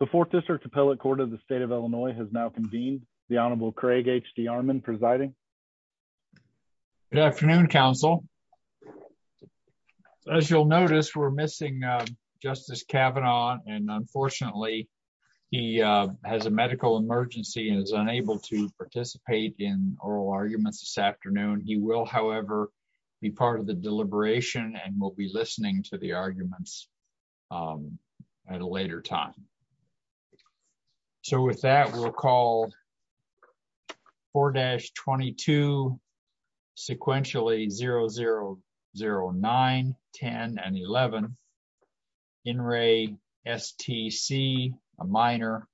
The Fourth District Appellate Court of the State of Illinois has now convened. The Honorable Craig H.D. Armond presiding. Good afternoon, Counsel. As you'll notice, we're missing Justice Kavanaugh, and unfortunately, he has a medical emergency and is unable to participate in oral arguments this afternoon. He will, however, be part of the deliberation and will be listening to the arguments at a later time. So with that, we'll call 4-22, sequentially, 0009, 10, and 11. In re, S.T.C., a minor,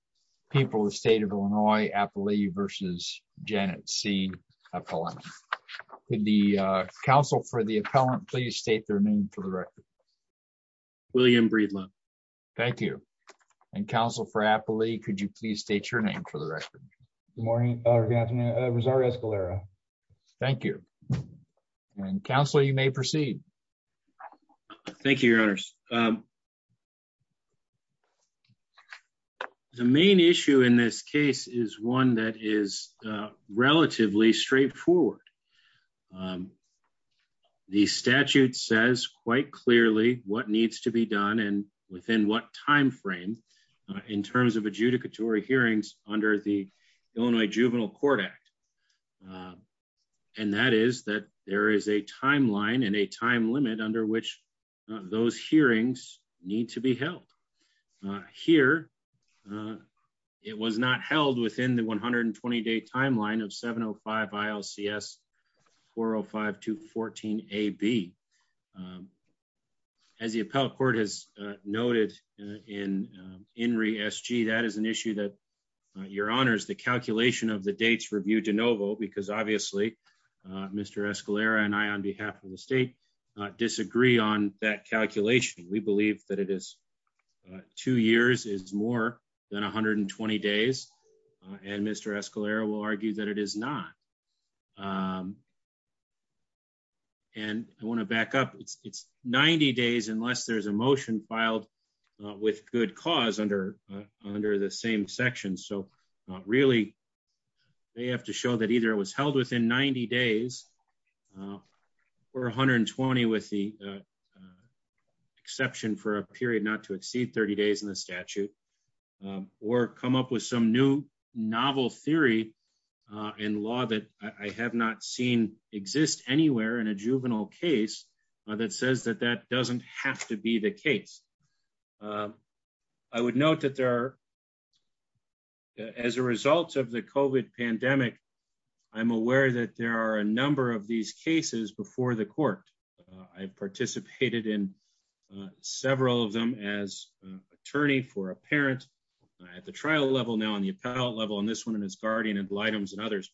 People of the State of Illinois, Appellee versus Janet C. Appellant. Could the counsel for the appellant please state their name for the record? William Breedland. Thank you. And Counsel for Appellee, could you please state your name for the record? Good morning, or good afternoon, Rosario Escalera. Thank you. And Counsel, you may proceed. Thank you, Your Honors. The main issue in this case is one that is relatively straightforward. The statute says quite clearly what needs to be done and within what time frame in terms of adjudicatory hearings under the Illinois Juvenile Court Act. And that is that there is a timeline and a time limit under which those hearings need to be held. Here, it was not held within the 120-day timeline of 705 ILCS 405-214-AB. As the appellate court has noted in re, S.G., that is an issue that, Your Honors, the calculation of the dates reviewed de novo, because obviously Mr. Escalera and I, on behalf of the state, disagree on that calculation. We believe that two years is more than 120 days, and Mr. Escalera will argue that it is not. And I want to back up. It's 90 days unless there's a motion filed with good cause under the same section. So really, they have to show that either it was held within 90 days or 120 with the exception for a period not to exceed 30 days in the statute, or come up with some new novel theory in law that I have not seen exist anywhere in a juvenile case that says that that doesn't have to be the case. I would note that there are, as a result of the COVID pandemic, I'm aware that there are a number of these cases before the court. I've participated in several of them as an attorney for a parent at the trial level, now on the appellate level, and this one in his guardian ad litems and others.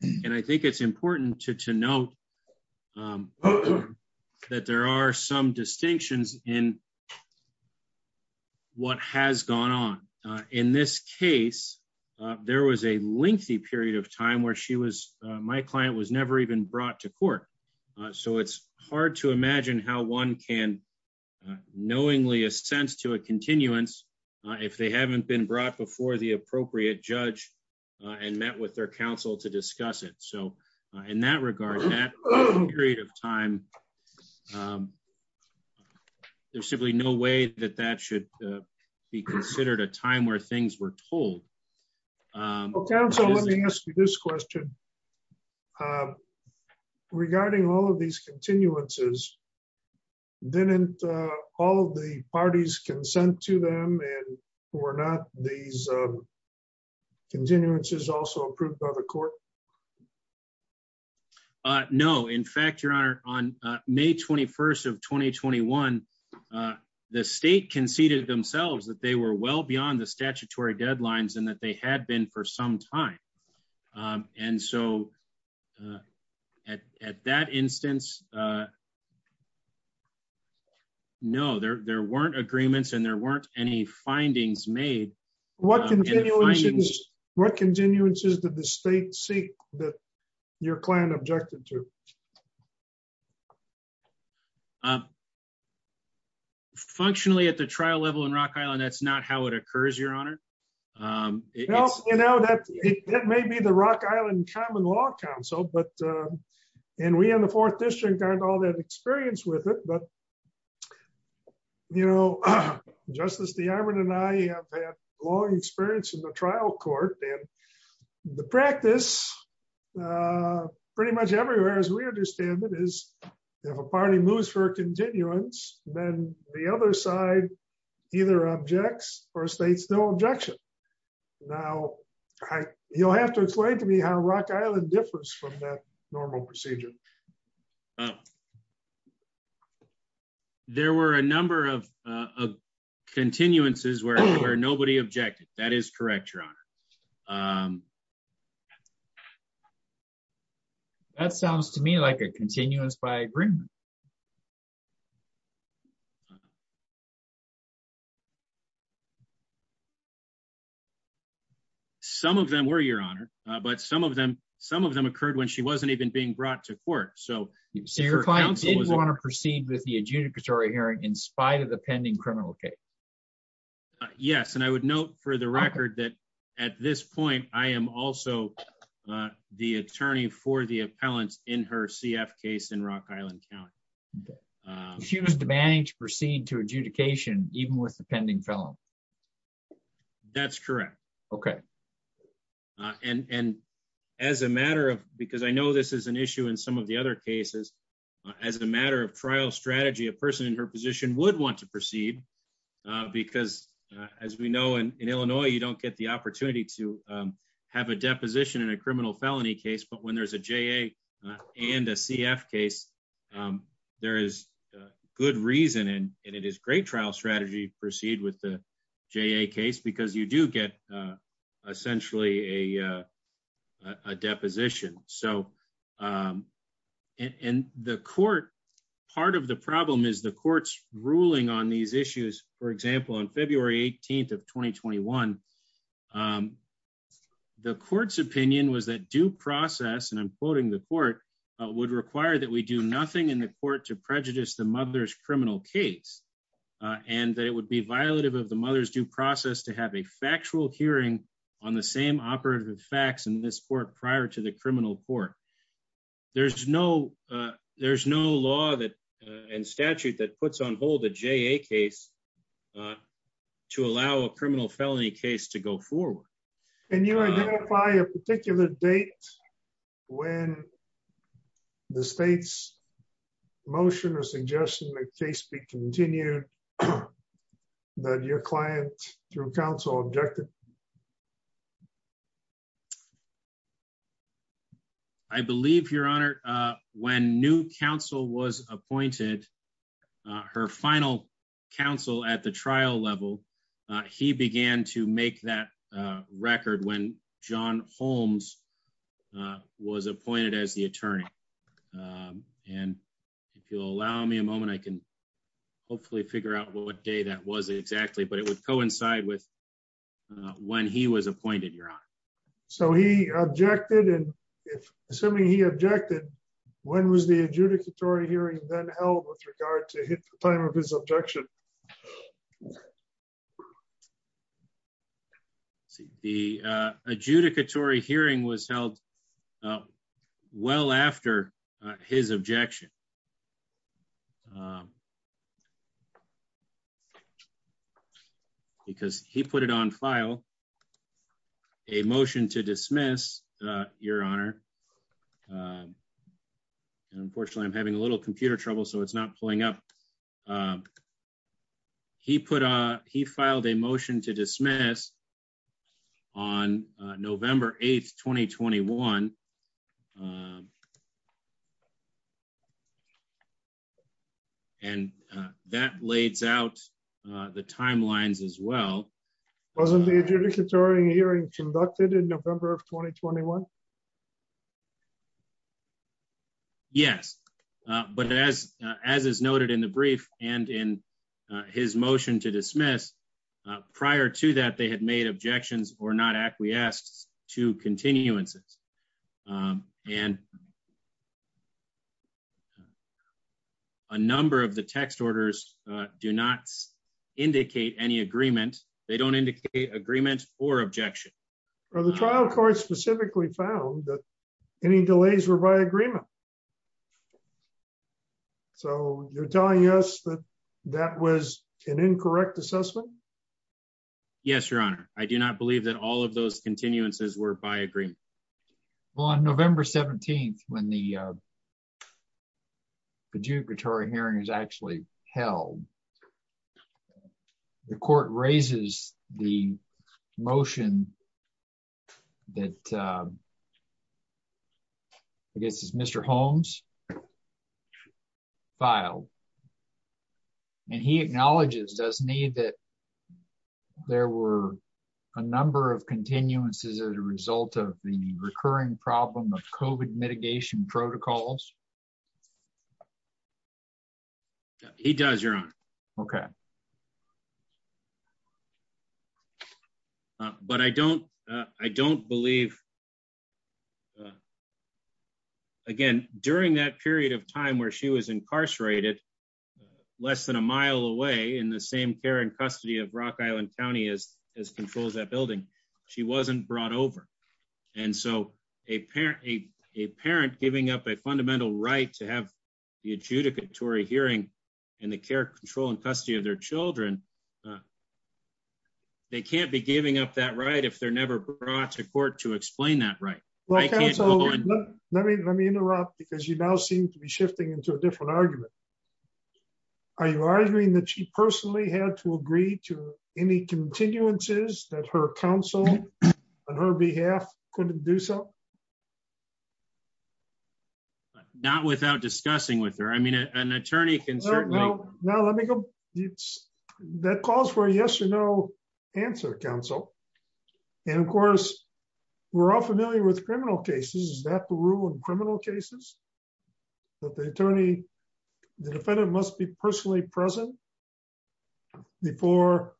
And I think it's important to note that there are some distinctions in what has gone on. In this case, there was a lengthy period of time where my client was never even brought to court. So it's hard to imagine how one can knowingly a sense to a continuance. If they haven't been brought before the appropriate judge and met with their counsel to discuss it so in that regard that period of time. There's simply no way that that should be considered a time where things were told. Okay, so let me ask you this question. Regarding all of these continuances didn't all the parties consent to them and we're not these continuances also approved by the court. No, in fact, Your Honor, on May 21 of 2021, the state conceded themselves that they were well beyond the statutory deadlines and that they had been for some time. And so, at that instance. No, there weren't agreements and there weren't any findings made. What can you. What continuances did the state seek that your client objected to. Functionally at the trial level in Rock Island that's not how it occurs, Your Honor. You know that it may be the Rock Island Common Law Council, but, and we in the fourth district aren't all that experienced with it but You know, Justice DeArmond and I have had long experience in the trial court and the practice. Pretty much everywhere as we understand that is if a party moves for continuance, then the other side, either objects or states no objection. Now, you'll have to explain to me how Rock Island differs from that normal procedure. There were a number of continuances where nobody objected that is correct, Your Honor. That sounds to me like a continuance by agreement. Some of them were, Your Honor, but some of them, some of them occurred when she wasn't even being brought to court so Your client didn't want to proceed with the adjudicatory hearing in spite of the pending criminal case. Yes, and I would note for the record that at this point, I am also the attorney for the appellant in her CF case in Rock Island County. She was demanding to proceed to adjudication, even with the pending felon. That's correct. Okay. And as a matter of, because I know this is an issue in some of the other cases, as a matter of trial strategy, a person in her position would want to proceed. Because, as we know, in Illinois, you don't get the opportunity to have a deposition in a criminal felony case, but when there's a JA and a CF case, there is good reason and it is great trial strategy to proceed with the JA case because you do get essentially a deposition. And the court, part of the problem is the court's ruling on these issues. For example, on February 18th of 2021, the court's opinion was that due process, and I'm quoting the court, would require that we do nothing in the court to prejudice the mother's criminal case, and that it would be violative of the mother's due process to have a factual hearing on the same operative facts in this court prior to the criminal court. There's no law and statute that puts on hold a JA case to allow a criminal felony case to go forward. Can you identify a particular date when the state's motion or suggestion that the case be continued that your client, through counsel, objected? I believe, Your Honor, when new counsel was appointed, her final counsel at the trial level, he began to make that record when John Holmes was appointed as the attorney. And if you'll allow me a moment, I can hopefully figure out what day that was exactly, but it would coincide with when he was appointed, Your Honor. So he objected, and assuming he objected, when was the adjudicatory hearing then held with regard to the time of his objection? The adjudicatory hearing was held well after his objection. Because he put it on file, a motion to dismiss, Your Honor. And unfortunately, I'm having a little computer trouble, so it's not pulling up. He filed a motion to dismiss on November 8th, 2021. And that lays out the timelines as well. Wasn't the adjudicatory hearing conducted in November of 2021? Yes. But as is noted in the brief and in his motion to dismiss, prior to that, they had made objections or not acquiesced to continuances. And a number of the text orders do not indicate any agreement. They don't indicate agreement or objection. Well, the trial court specifically found that any delays were by agreement. So you're telling us that that was an incorrect assessment? Yes, Your Honor. I do not believe that all of those continuances were by agreement. Well, on November 17th, when the adjudicatory hearing is actually held, the court raises the motion that I guess is Mr. Holmes filed. And he acknowledges, doesn't he, that there were a number of continuances as a result of the recurring problem of COVID mitigation protocols? He does, Your Honor. Okay. But I don't believe, again, during that period of time where she was incarcerated, less than a mile away in the same care and custody of Rock Island County as controls that building, she wasn't brought over. And so a parent giving up a fundamental right to have the adjudicatory hearing in the care, control, and custody of their children, they can't be giving up that right if they're never brought to court to explain that right. Let me interrupt because you now seem to be shifting into a different argument. Are you arguing that she personally had to agree to any continuances that her counsel on her behalf couldn't do so? Not without discussing with her. I mean, an attorney can certainly... That calls for a yes or no answer, counsel. And of course, we're all familiar with criminal cases. Is that the rule in criminal cases that the attorney, the defendant must be personally present before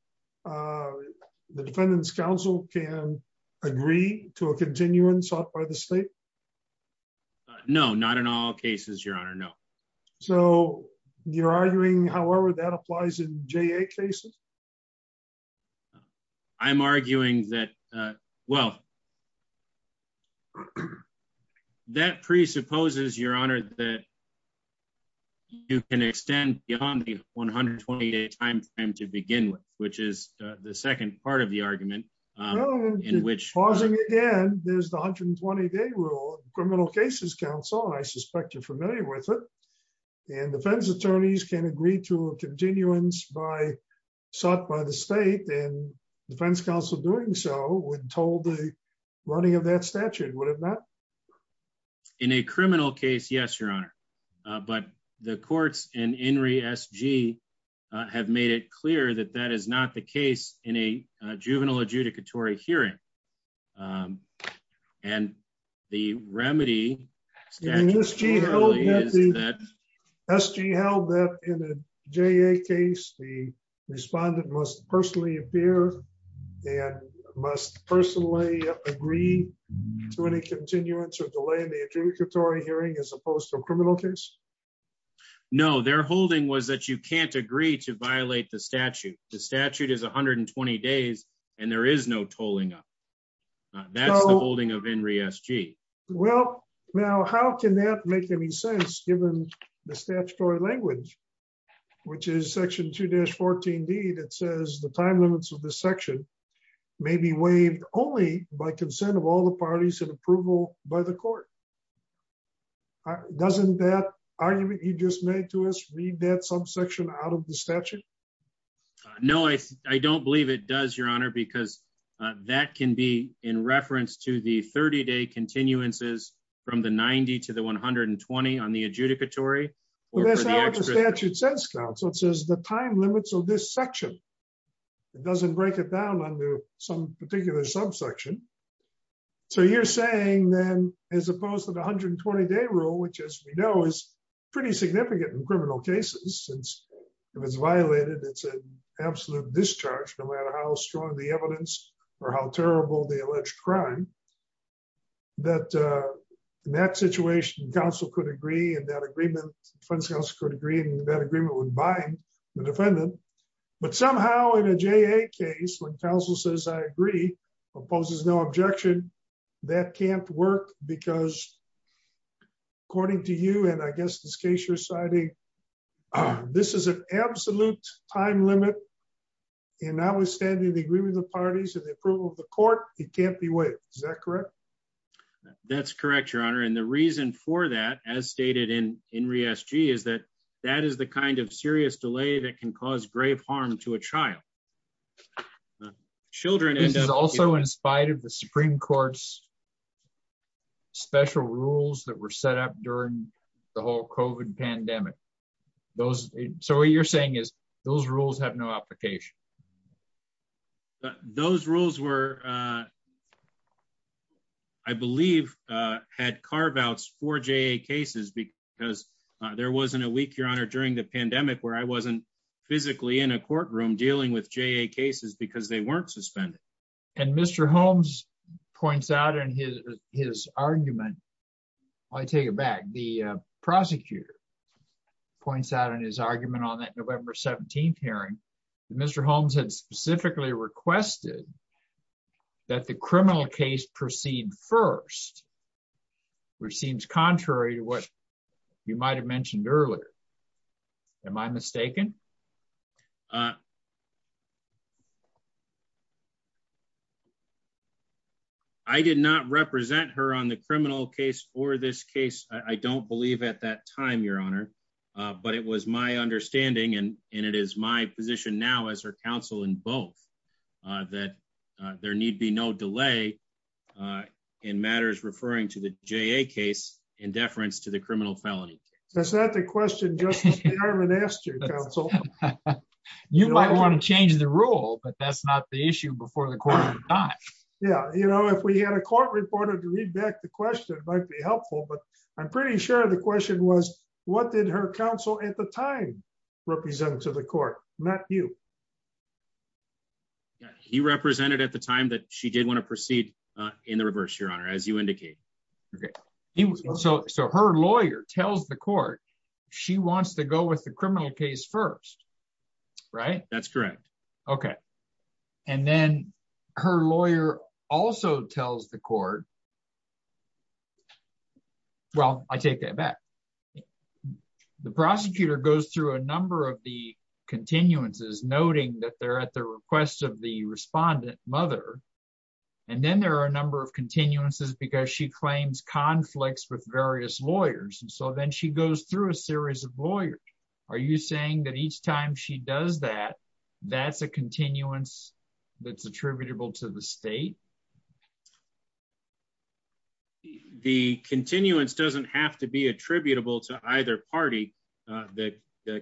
the defendant's counsel can agree to a continuance sought by the state? No, not in all cases, Your Honor. No. So you're arguing, however, that applies in JA cases? I'm arguing that, well, that presupposes, Your Honor, that you can extend beyond the 120-day time frame to begin with, which is the second part of the argument. Pausing again, there's the 120-day rule in criminal cases, counsel, and I suspect you're familiar with it. And defense attorneys can agree to a continuance sought by the state, and defense counsel doing so would have told the running of that statute, would it not? In a criminal case, yes, Your Honor. But the courts in INRI SG have made it clear that that is not the case in a juvenile adjudicatory hearing. And the remedy... SG held that in a JA case, the respondent must personally appear and must personally agree to any continuance or delay in the adjudicatory hearing as opposed to a criminal case? No, their holding was that you can't agree to violate the statute. The statute is 120 days, and there is no tolling up. That's the holding of INRI SG. Well, now, how can that make any sense given the statutory language, which is section 2-14D that says the time limits of this section may be waived only by consent of all the parties and approval by the court? Doesn't that argument you just made to us read that subsection out of the statute? No, I don't believe it does, Your Honor, because that can be in reference to the 30-day continuances from the 90 to the 120 on the adjudicatory. That's not what the statute says, counsel. It says the time limits of this section. It doesn't break it down under some particular subsection. So you're saying then, as opposed to the 120-day rule, which, as we know, is pretty significant in criminal cases, since if it's violated, it's an absolute discharge, no matter how strong the evidence or how terrible the alleged crime, that in that situation, counsel could agree and that agreement would bind the defendant. But somehow, in a JA case, when counsel says, I agree, opposes no objection, that can't work because, according to you, and I guess this case you're citing, this is an absolute time limit, and notwithstanding the agreement of the parties and the approval of the court, it can't be waived. Is that correct? That's correct, Your Honor, and the reason for that, as stated in RE-SG, is that that is the kind of serious delay that can cause grave harm to a child. This is also in spite of the Supreme Court's special rules that were set up during the whole COVID pandemic. So what you're saying is those rules have no application. Those rules were, I believe, had carve-outs for JA cases because there wasn't a week, Your Honor, during the pandemic where I wasn't physically in a courtroom dealing with JA cases because they weren't suspended. And Mr. Holmes points out in his argument, I take it back, the prosecutor points out in his argument on that November 17th hearing that Mr. Holmes had specifically requested that the criminal case proceed first, which seems contrary to what you might have mentioned earlier. Am I mistaken? I did not represent her on the criminal case or this case, I don't believe, at that time, Your Honor, but it was my understanding, and it is my position now as her counsel in both, that there need be no delay in matters referring to the JA case in deference to the criminal felony. That's not the question Justice Darman asked you, Counsel. You might want to change the rule, but that's not the issue before the court. Yeah, you know, if we had a court reporter to read back the question, it might be helpful, but I'm pretty sure the question was, what did her counsel at the time represent to the court, not you. He represented at the time that she did want to proceed in the reverse, Your Honor, as you indicate. So her lawyer tells the court she wants to go with the criminal case first, right? That's correct. Okay. And then her lawyer also tells the court, well, I take that back. The prosecutor goes through a number of the continuances, noting that they're at the request of the respondent mother, and then there are a number of continuances because she claims conflicts with various lawyers, and so then she goes through a series of lawyers. Are you saying that each time she does that, that's a continuance that's attributable to the state? The continuance doesn't have to be attributable to either party. The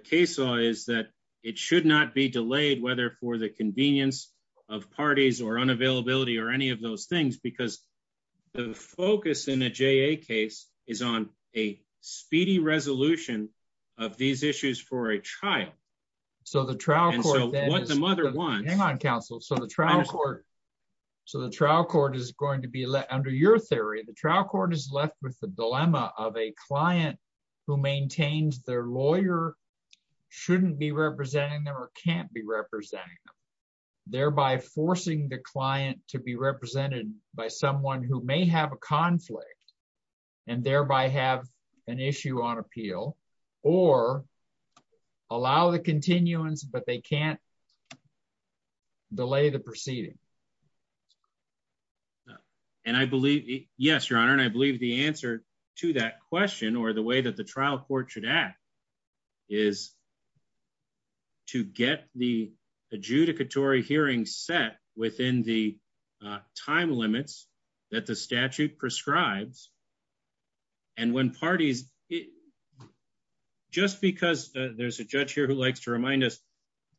case law is that it should not be delayed, whether for the convenience of parties or unavailability or any of those things, because the focus in a JA case is on a speedy resolution of these issues for a child. So the trial court is going to be, under your theory, the trial court is left with the dilemma of a client who maintains their lawyer shouldn't be representing them or can't be representing them, thereby forcing the client to be represented by someone who may have a conflict and thereby have an issue on appeal or allow the continuance but they can't delay the proceeding. And I believe, yes, Your Honor, and I believe the answer to that question or the way that the trial court should act is to get the adjudicatory hearing set within the time limits that the statute prescribes. And when parties, just because there's a judge here who likes to remind us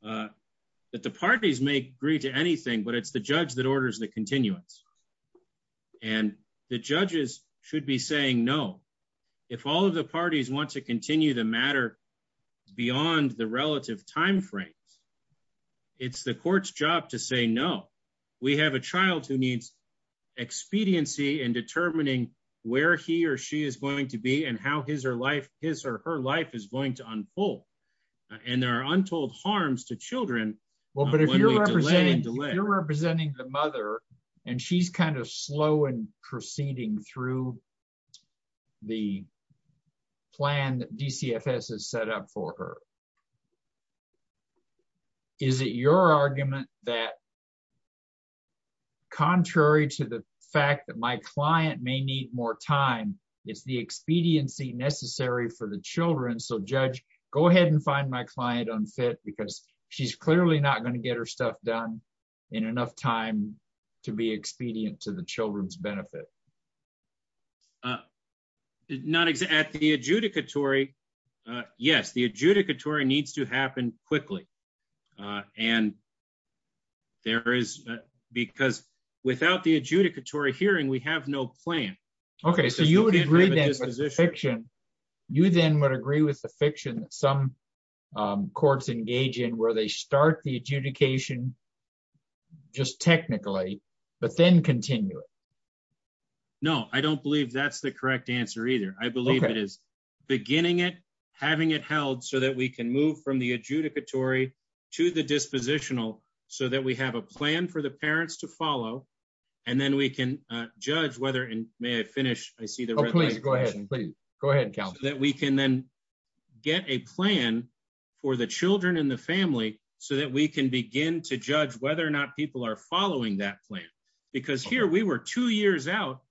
that the parties may agree to anything, but it's the judge that orders the continuance. And the judges should be saying no. If all of the parties want to continue the matter beyond the relative timeframes, it's the court's job to say no. We have a child who needs expediency in determining where he or she is going to be and how his or her life is going to unfold. And there are untold harms to children. Well, but if you're representing the mother, and she's kind of slow and proceeding through the plan that DCFS has set up for her. Is it your argument that, contrary to the fact that my client may need more time, it's the expediency necessary for the children. So judge, go ahead and find my client unfit because she's clearly not going to get her stuff done in enough time to be expedient to the children's benefit. Not exactly the adjudicatory. Yes, the adjudicatory needs to happen quickly. And there is, because without the adjudicatory hearing we have no plan. Okay, so you would agree that this is fiction. You then would agree with the fiction, some courts engage in where they start the adjudication. Just technically, but then continue it. No, I don't believe that's the correct answer either. I believe it is beginning it having it held so that we can move from the adjudicatory to the dispositional, so that we have a plan for the parents to follow. And then we can judge whether and may I finish, I see the. Please go ahead and please go ahead and count that we can then get a plan for the children in the family, so that we can begin to judge whether or not people are following that plan. Because here we were two years out.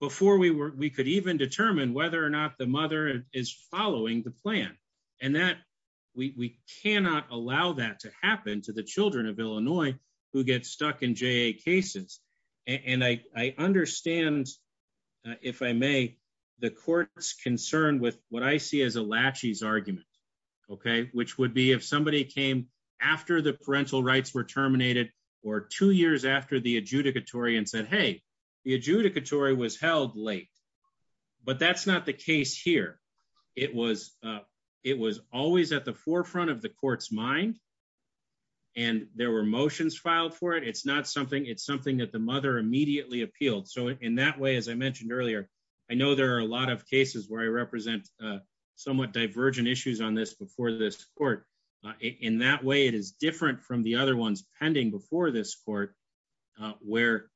Before we were, we could even determine whether or not the mother is following the plan, and that we cannot allow that to happen to the children of Illinois, who gets stuck in Jay cases. And I understand. If I may, the courts concerned with what I see as a latches argument. Okay, which would be if somebody came after the parental rights were terminated, or two years after the adjudicatory and said hey, the adjudicatory was held late. But that's not the case here. It was. It was always at the forefront of the court's mind. And there were motions filed for it it's not something it's something that the mother immediately appealed so in that way as I mentioned earlier, I know there are a lot of cases where I represent somewhat divergent issues on this before this court. In that way it is different from the other ones pending before this court, where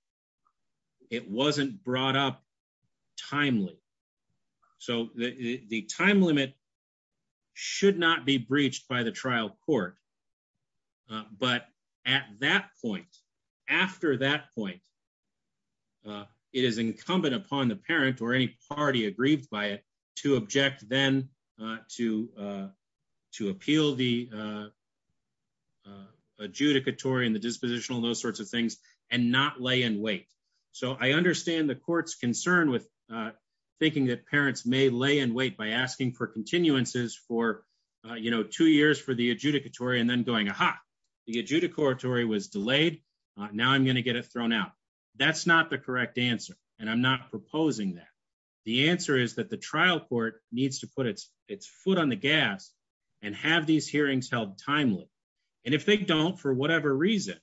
it wasn't brought up timely. So, the time limit should not be breached by the trial court. But at that point. After that point, it is incumbent upon the parent or any party agreed by it to object then to, to appeal the adjudicatory and the dispositional those sorts of things, and not lay in wait. So I understand the court's concern with thinking that parents may lay in wait by asking for continuances for, you know, two years for the adjudicatory and then going aha, the adjudicatory was delayed. Now I'm going to get it thrown out. That's not the correct answer. And I'm not proposing that. The answer is that the trial court needs to put its, its foot on the gas and have these hearings held timely. And if they don't for whatever reason,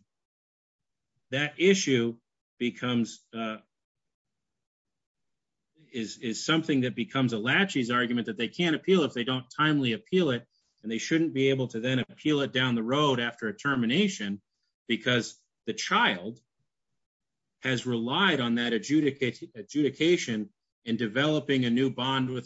that issue becomes is something that becomes a latches argument that they can't appeal if they don't timely appeal it, and they shouldn't be able to then appeal it down the road after a termination, because the child has relied on that adjudicate adjudication and developing a new from the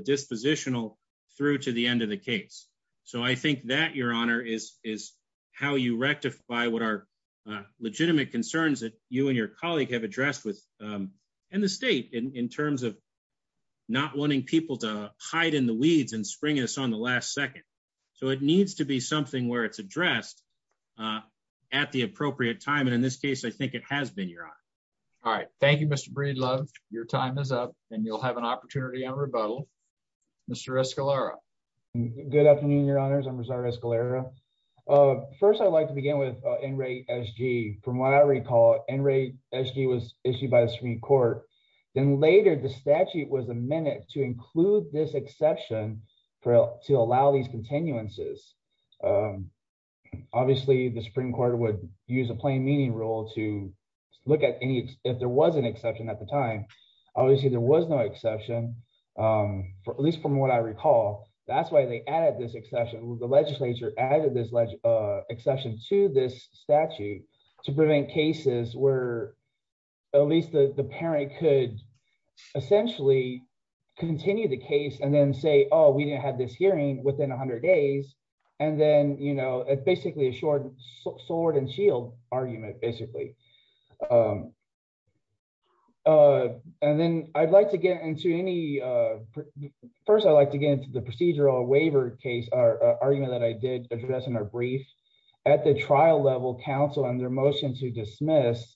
dispositional through to the end of the case. So I think that your honor is is how you rectify what are legitimate concerns that you and your colleague have addressed with in the state in terms of not wanting people to hide in the weeds and spring us on the last second. So it needs to be something where it's addressed. At the appropriate time. And in this case, I think it has been your honor. All right. Thank you, Mr. Breedlove, your time is up, and you'll have an opportunity on rebuttal. Mr Escalera. Good afternoon, Your Honors. I'm Rosario Escalera. First I'd like to begin with NRA SG, from what I recall, NRA SG was issued by the Supreme Court, then later the statute was amended to include this exception for to allow these continuances. Obviously the Supreme Court would use a plain meaning rule to look at any, if there was an exception at the time. Obviously there was no exception for at least from what I recall, that's why they added this exception, the legislature added this exception to this statute to prevent cases where at least the parent could essentially continue the case and then say, oh, we didn't have this hearing within 100 days. And then, you know, it's basically a short sword and shield argument, basically. And then I'd like to get into any, first I'd like to get into the procedural waiver case, or argument that I did address in our brief. At the trial level, counsel on their motion to dismiss,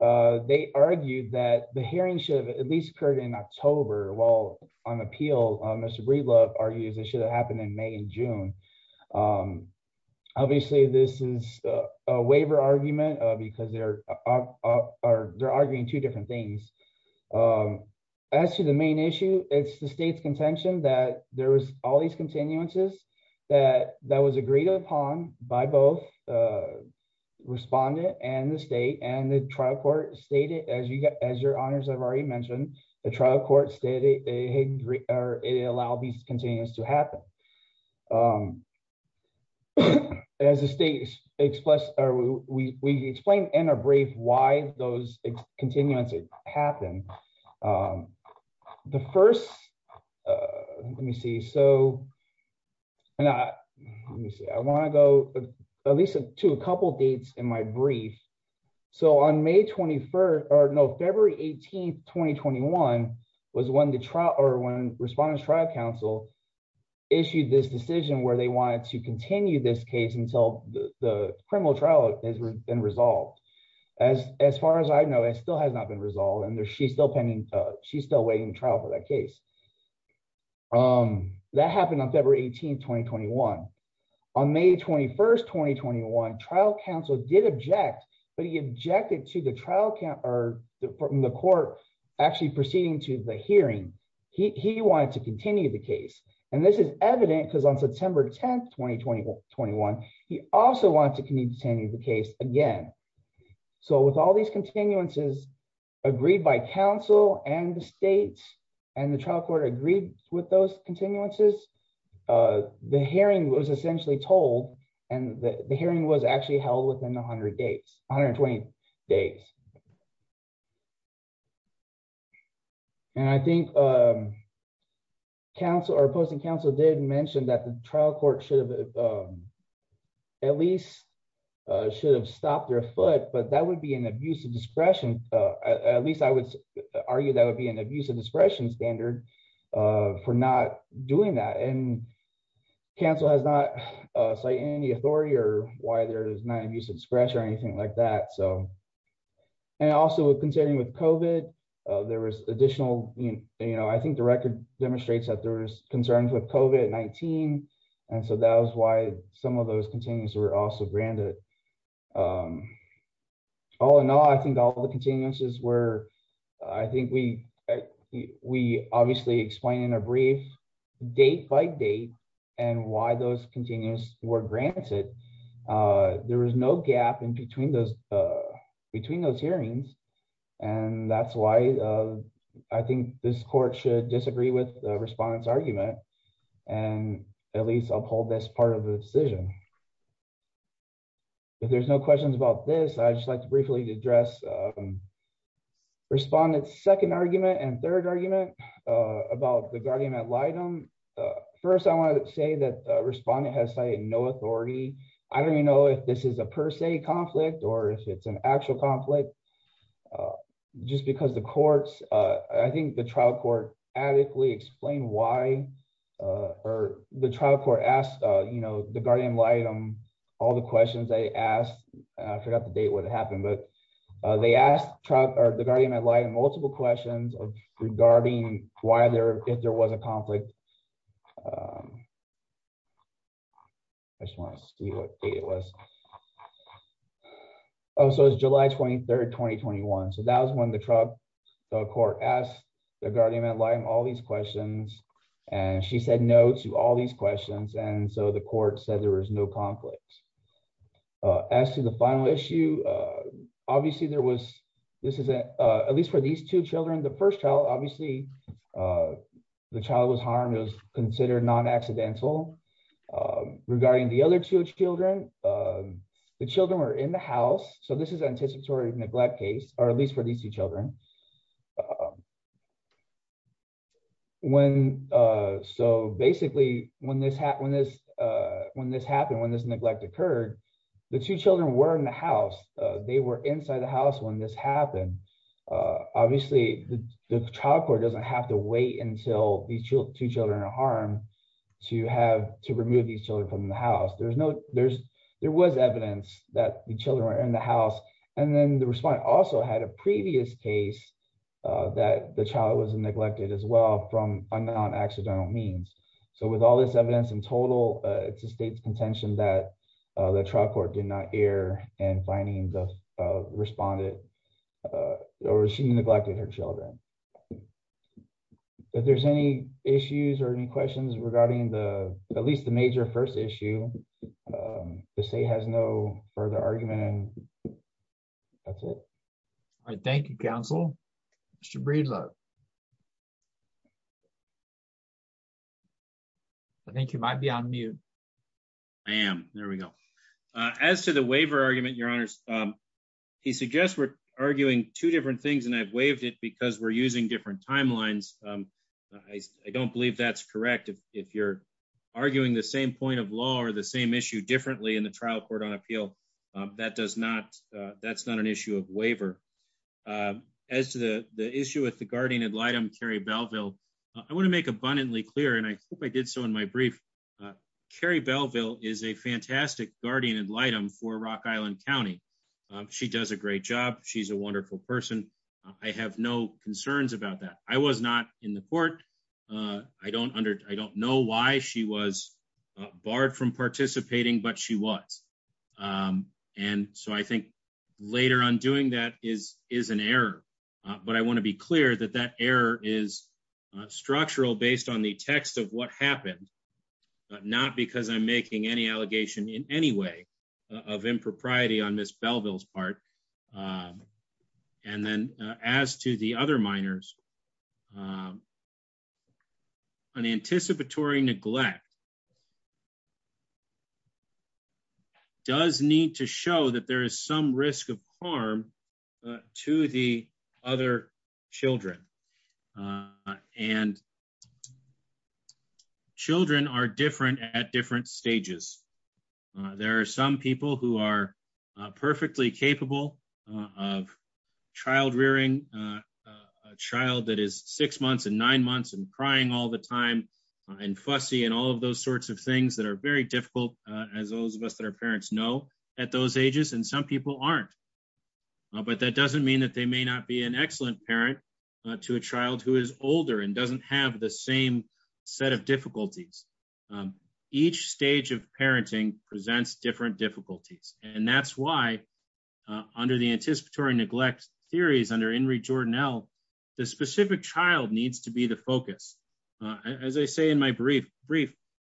they argued that the hearing should have at least occurred in October, while on appeal, Mr. Breedlove argues it should have happened in May and June. Obviously this is a waiver argument because they're arguing two different things. As to the main issue, it's the state's contention that there was all these continuances that was agreed upon by both the respondent and the state and the trial court stated, as your honors have already mentioned, the trial court stated it allowed these continuances to happen. As the state expressed, or we explained in our brief why those continuances happened. The first, let me see, so I want to go at least to a couple of dates in my brief. So on May 21, or no, February 18, 2021, was when the trial, or when Respondents Trial Council issued this decision where they wanted to continue this case until the criminal trial has been resolved. As far as I know, it still has not been resolved and she's still pending, she's still waiting to trial for that case. That happened on February 18, 2021. On May 21, 2021, Trial Council did object, but he objected to the trial, or the court, actually proceeding to the hearing. He wanted to continue the case, and this is evident because on September 10, 2021, he also wanted to continue the case again. So with all these continuances agreed by counsel and the state and the trial court agreed with those continuances, the hearing was essentially told, and the hearing was actually held within 100 days, 120 days. And I think counsel, or opposing counsel did mention that the trial court should have at least should have stopped their foot, but that would be an abuse of discretion. At least I would argue that would be an abuse of discretion standard for not doing that, and counsel has not cited any authority or why there is not abuse of discretion or anything like that. And also with concerning with COVID, there was additional, you know, I think the record demonstrates that there was concerns with COVID-19, and so that was why some of those continuances were also granted. All in all, I think all the continuances were, I think we, we obviously explained in a brief, date by date, and why those continuances were granted. There was no gap in between those hearings, and that's why I think this court should disagree with the respondent's argument, and at least uphold this part of the decision. If there's no questions about this, I'd just like to briefly address respondent's second argument and third argument about the guardian ad litem. First, I want to say that respondent has cited no authority. I don't even know if this is a per se conflict or if it's an actual conflict. Just because the courts, I think the trial court adequately explained why, or the trial court asked, you know, the guardian ad litem, all the questions they asked, and I forgot the date when it happened, but they asked the guardian ad litem multiple questions regarding why there, if there was a conflict. I just want to see what date it was. Oh, so it's July 23, 2021, so that was when the trial court asked the guardian ad litem all these questions, and she said no to all these questions, and so the court said there was no conflict. As to the final issue, obviously there was, this is, at least for these two children, the first child, obviously, the child was harmed, it was considered non-accidental. Regarding the other two children, the children were in the house, so this is anticipatory neglect case, or at least for these two children. When, so basically when this happened, when this, when this happened, when this neglect occurred, the two children were in the house, they were inside the house when this happened. Obviously, the trial court doesn't have to wait until these two children are harmed to have, to remove these children from the house. There's no, there's, there was evidence that the children were in the house, and then the respondent also had a previous case that the child was neglected as well from a non-accidental means. So with all this evidence in total, it's the state's contention that the trial court did not err in finding the respondent, or she neglected her children. If there's any issues or any questions regarding the, at least the major first issue, the state has no further argument, and that's it. All right, thank you, counsel. Mr. Breedlove. I think you might be on mute. I am, there we go. As to the waiver argument, your honors, he suggests we're arguing two different things, and I've waived it because we're using different timelines. I don't believe that's correct. If you're arguing the same point of law or the same issue differently in the trial court on appeal, that does not, that's not an issue of waiver. As to the issue with the guardian ad litem, Carrie Belleville, I want to make abundantly clear, and I hope I did so in my brief, Carrie Belleville is a fantastic guardian ad litem for Rock Island County. She does a great job. She's a wonderful person. I have no concerns about that. I was not in the court. I don't know why she was barred from participating, but she was. And so I think later on doing that is an error, but I want to be clear that that error is structural based on the text of what happened, not because I'm making any allegation in any way of impropriety on Miss Belleville's part. And then, as to the other minors, an anticipatory neglect does need to show that there is some risk of harm to the other children. And children are different at different stages. There are some people who are perfectly capable of child rearing, a child that is six months and nine months and crying all the time and fussy and all of those sorts of things that are very difficult, as those of us that our parents know, at those ages and some people aren't. But that doesn't mean that they may not be an excellent parent to a child who is older and doesn't have the same set of difficulties. Each stage of parenting presents different difficulties, and that's why, under the anticipatory neglect theories under Henry Jordan L, the specific child needs to be the focus. As I say in my brief,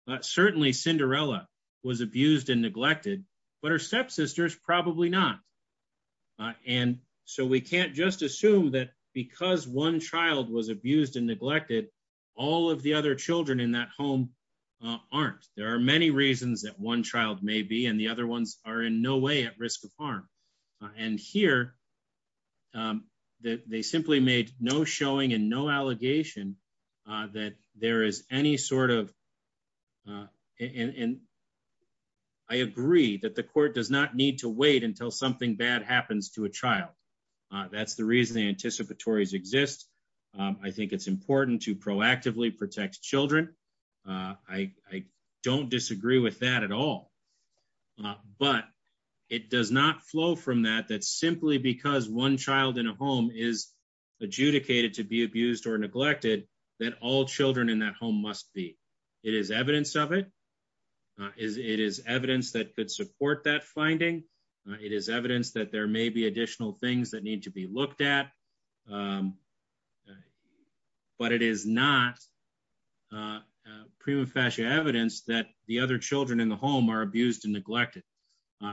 but certainly Cinderella was abused and neglected, but her stepsisters probably not. And so we can't just assume that because one child was abused and neglected, all of the other children in that home aren't. There are many reasons that one child may be and the other ones are in no way at risk of harm. And here, they simply made no showing and no allegation that there is any sort of And I agree that the court does not need to wait until something bad happens to a child. That's the reason the anticipatory exists. I think it's important to proactively protect children. I don't disagree with that at all. But it does not flow from that that simply because one child in a home is adjudicated to be abused or neglected that all children in that home must be. It is evidence of it. It is evidence that could support that finding. It is evidence that there may be additional things that need to be looked at. But it is not prima facie evidence that the other children in the home are abused and neglected.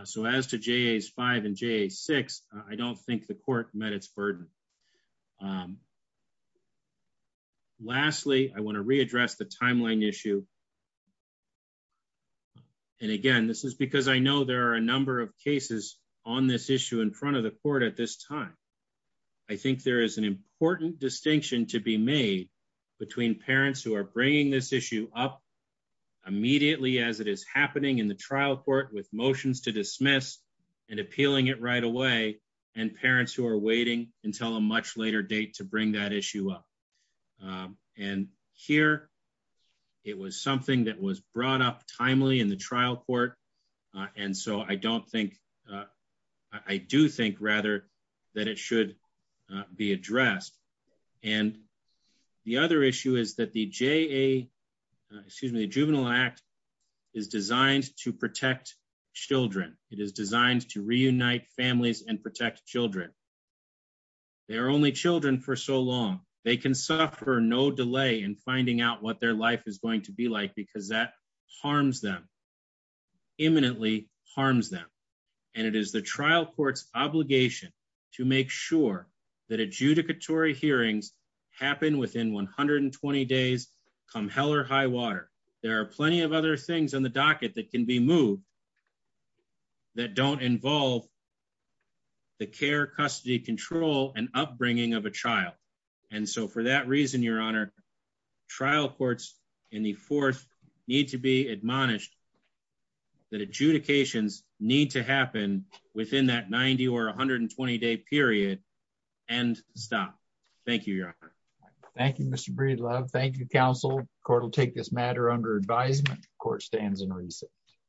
So as to JAS 5 and JAS 6, I don't think the court met its burden. Lastly, I want to readdress the timeline issue. And again, this is because I know there are a number of cases on this issue in front of the court at this time. I think there is an important distinction to be made between parents who are bringing this issue up immediately as it is happening in the trial court with motions to dismiss and appealing it right away and parents who are waiting until a much later date to bring that issue up. And here, it was something that was brought up timely in the trial court. And so I don't think, I do think rather that it should be addressed. And the other issue is that the JA, excuse me, the Juvenile Act is designed to protect children. It is designed to reunite families and protect children. They are only children for so long. They can suffer no delay in finding out what their life is going to be like because that harms them, imminently harms them. And it is the trial court's obligation to make sure that adjudicatory hearings happen within 120 days, come hell or high water. There are plenty of other things on the docket that can be moved that don't involve the care, custody, control, and upbringing of a child. And so for that reason, Your Honor, trial courts in the fourth need to be admonished that adjudications need to happen within that 90 or 120 day period and stop. Thank you, Your Honor. Thank you, Mr. Breedlove. Thank you, counsel. Court will take this matter under advisement. Court stands in recess.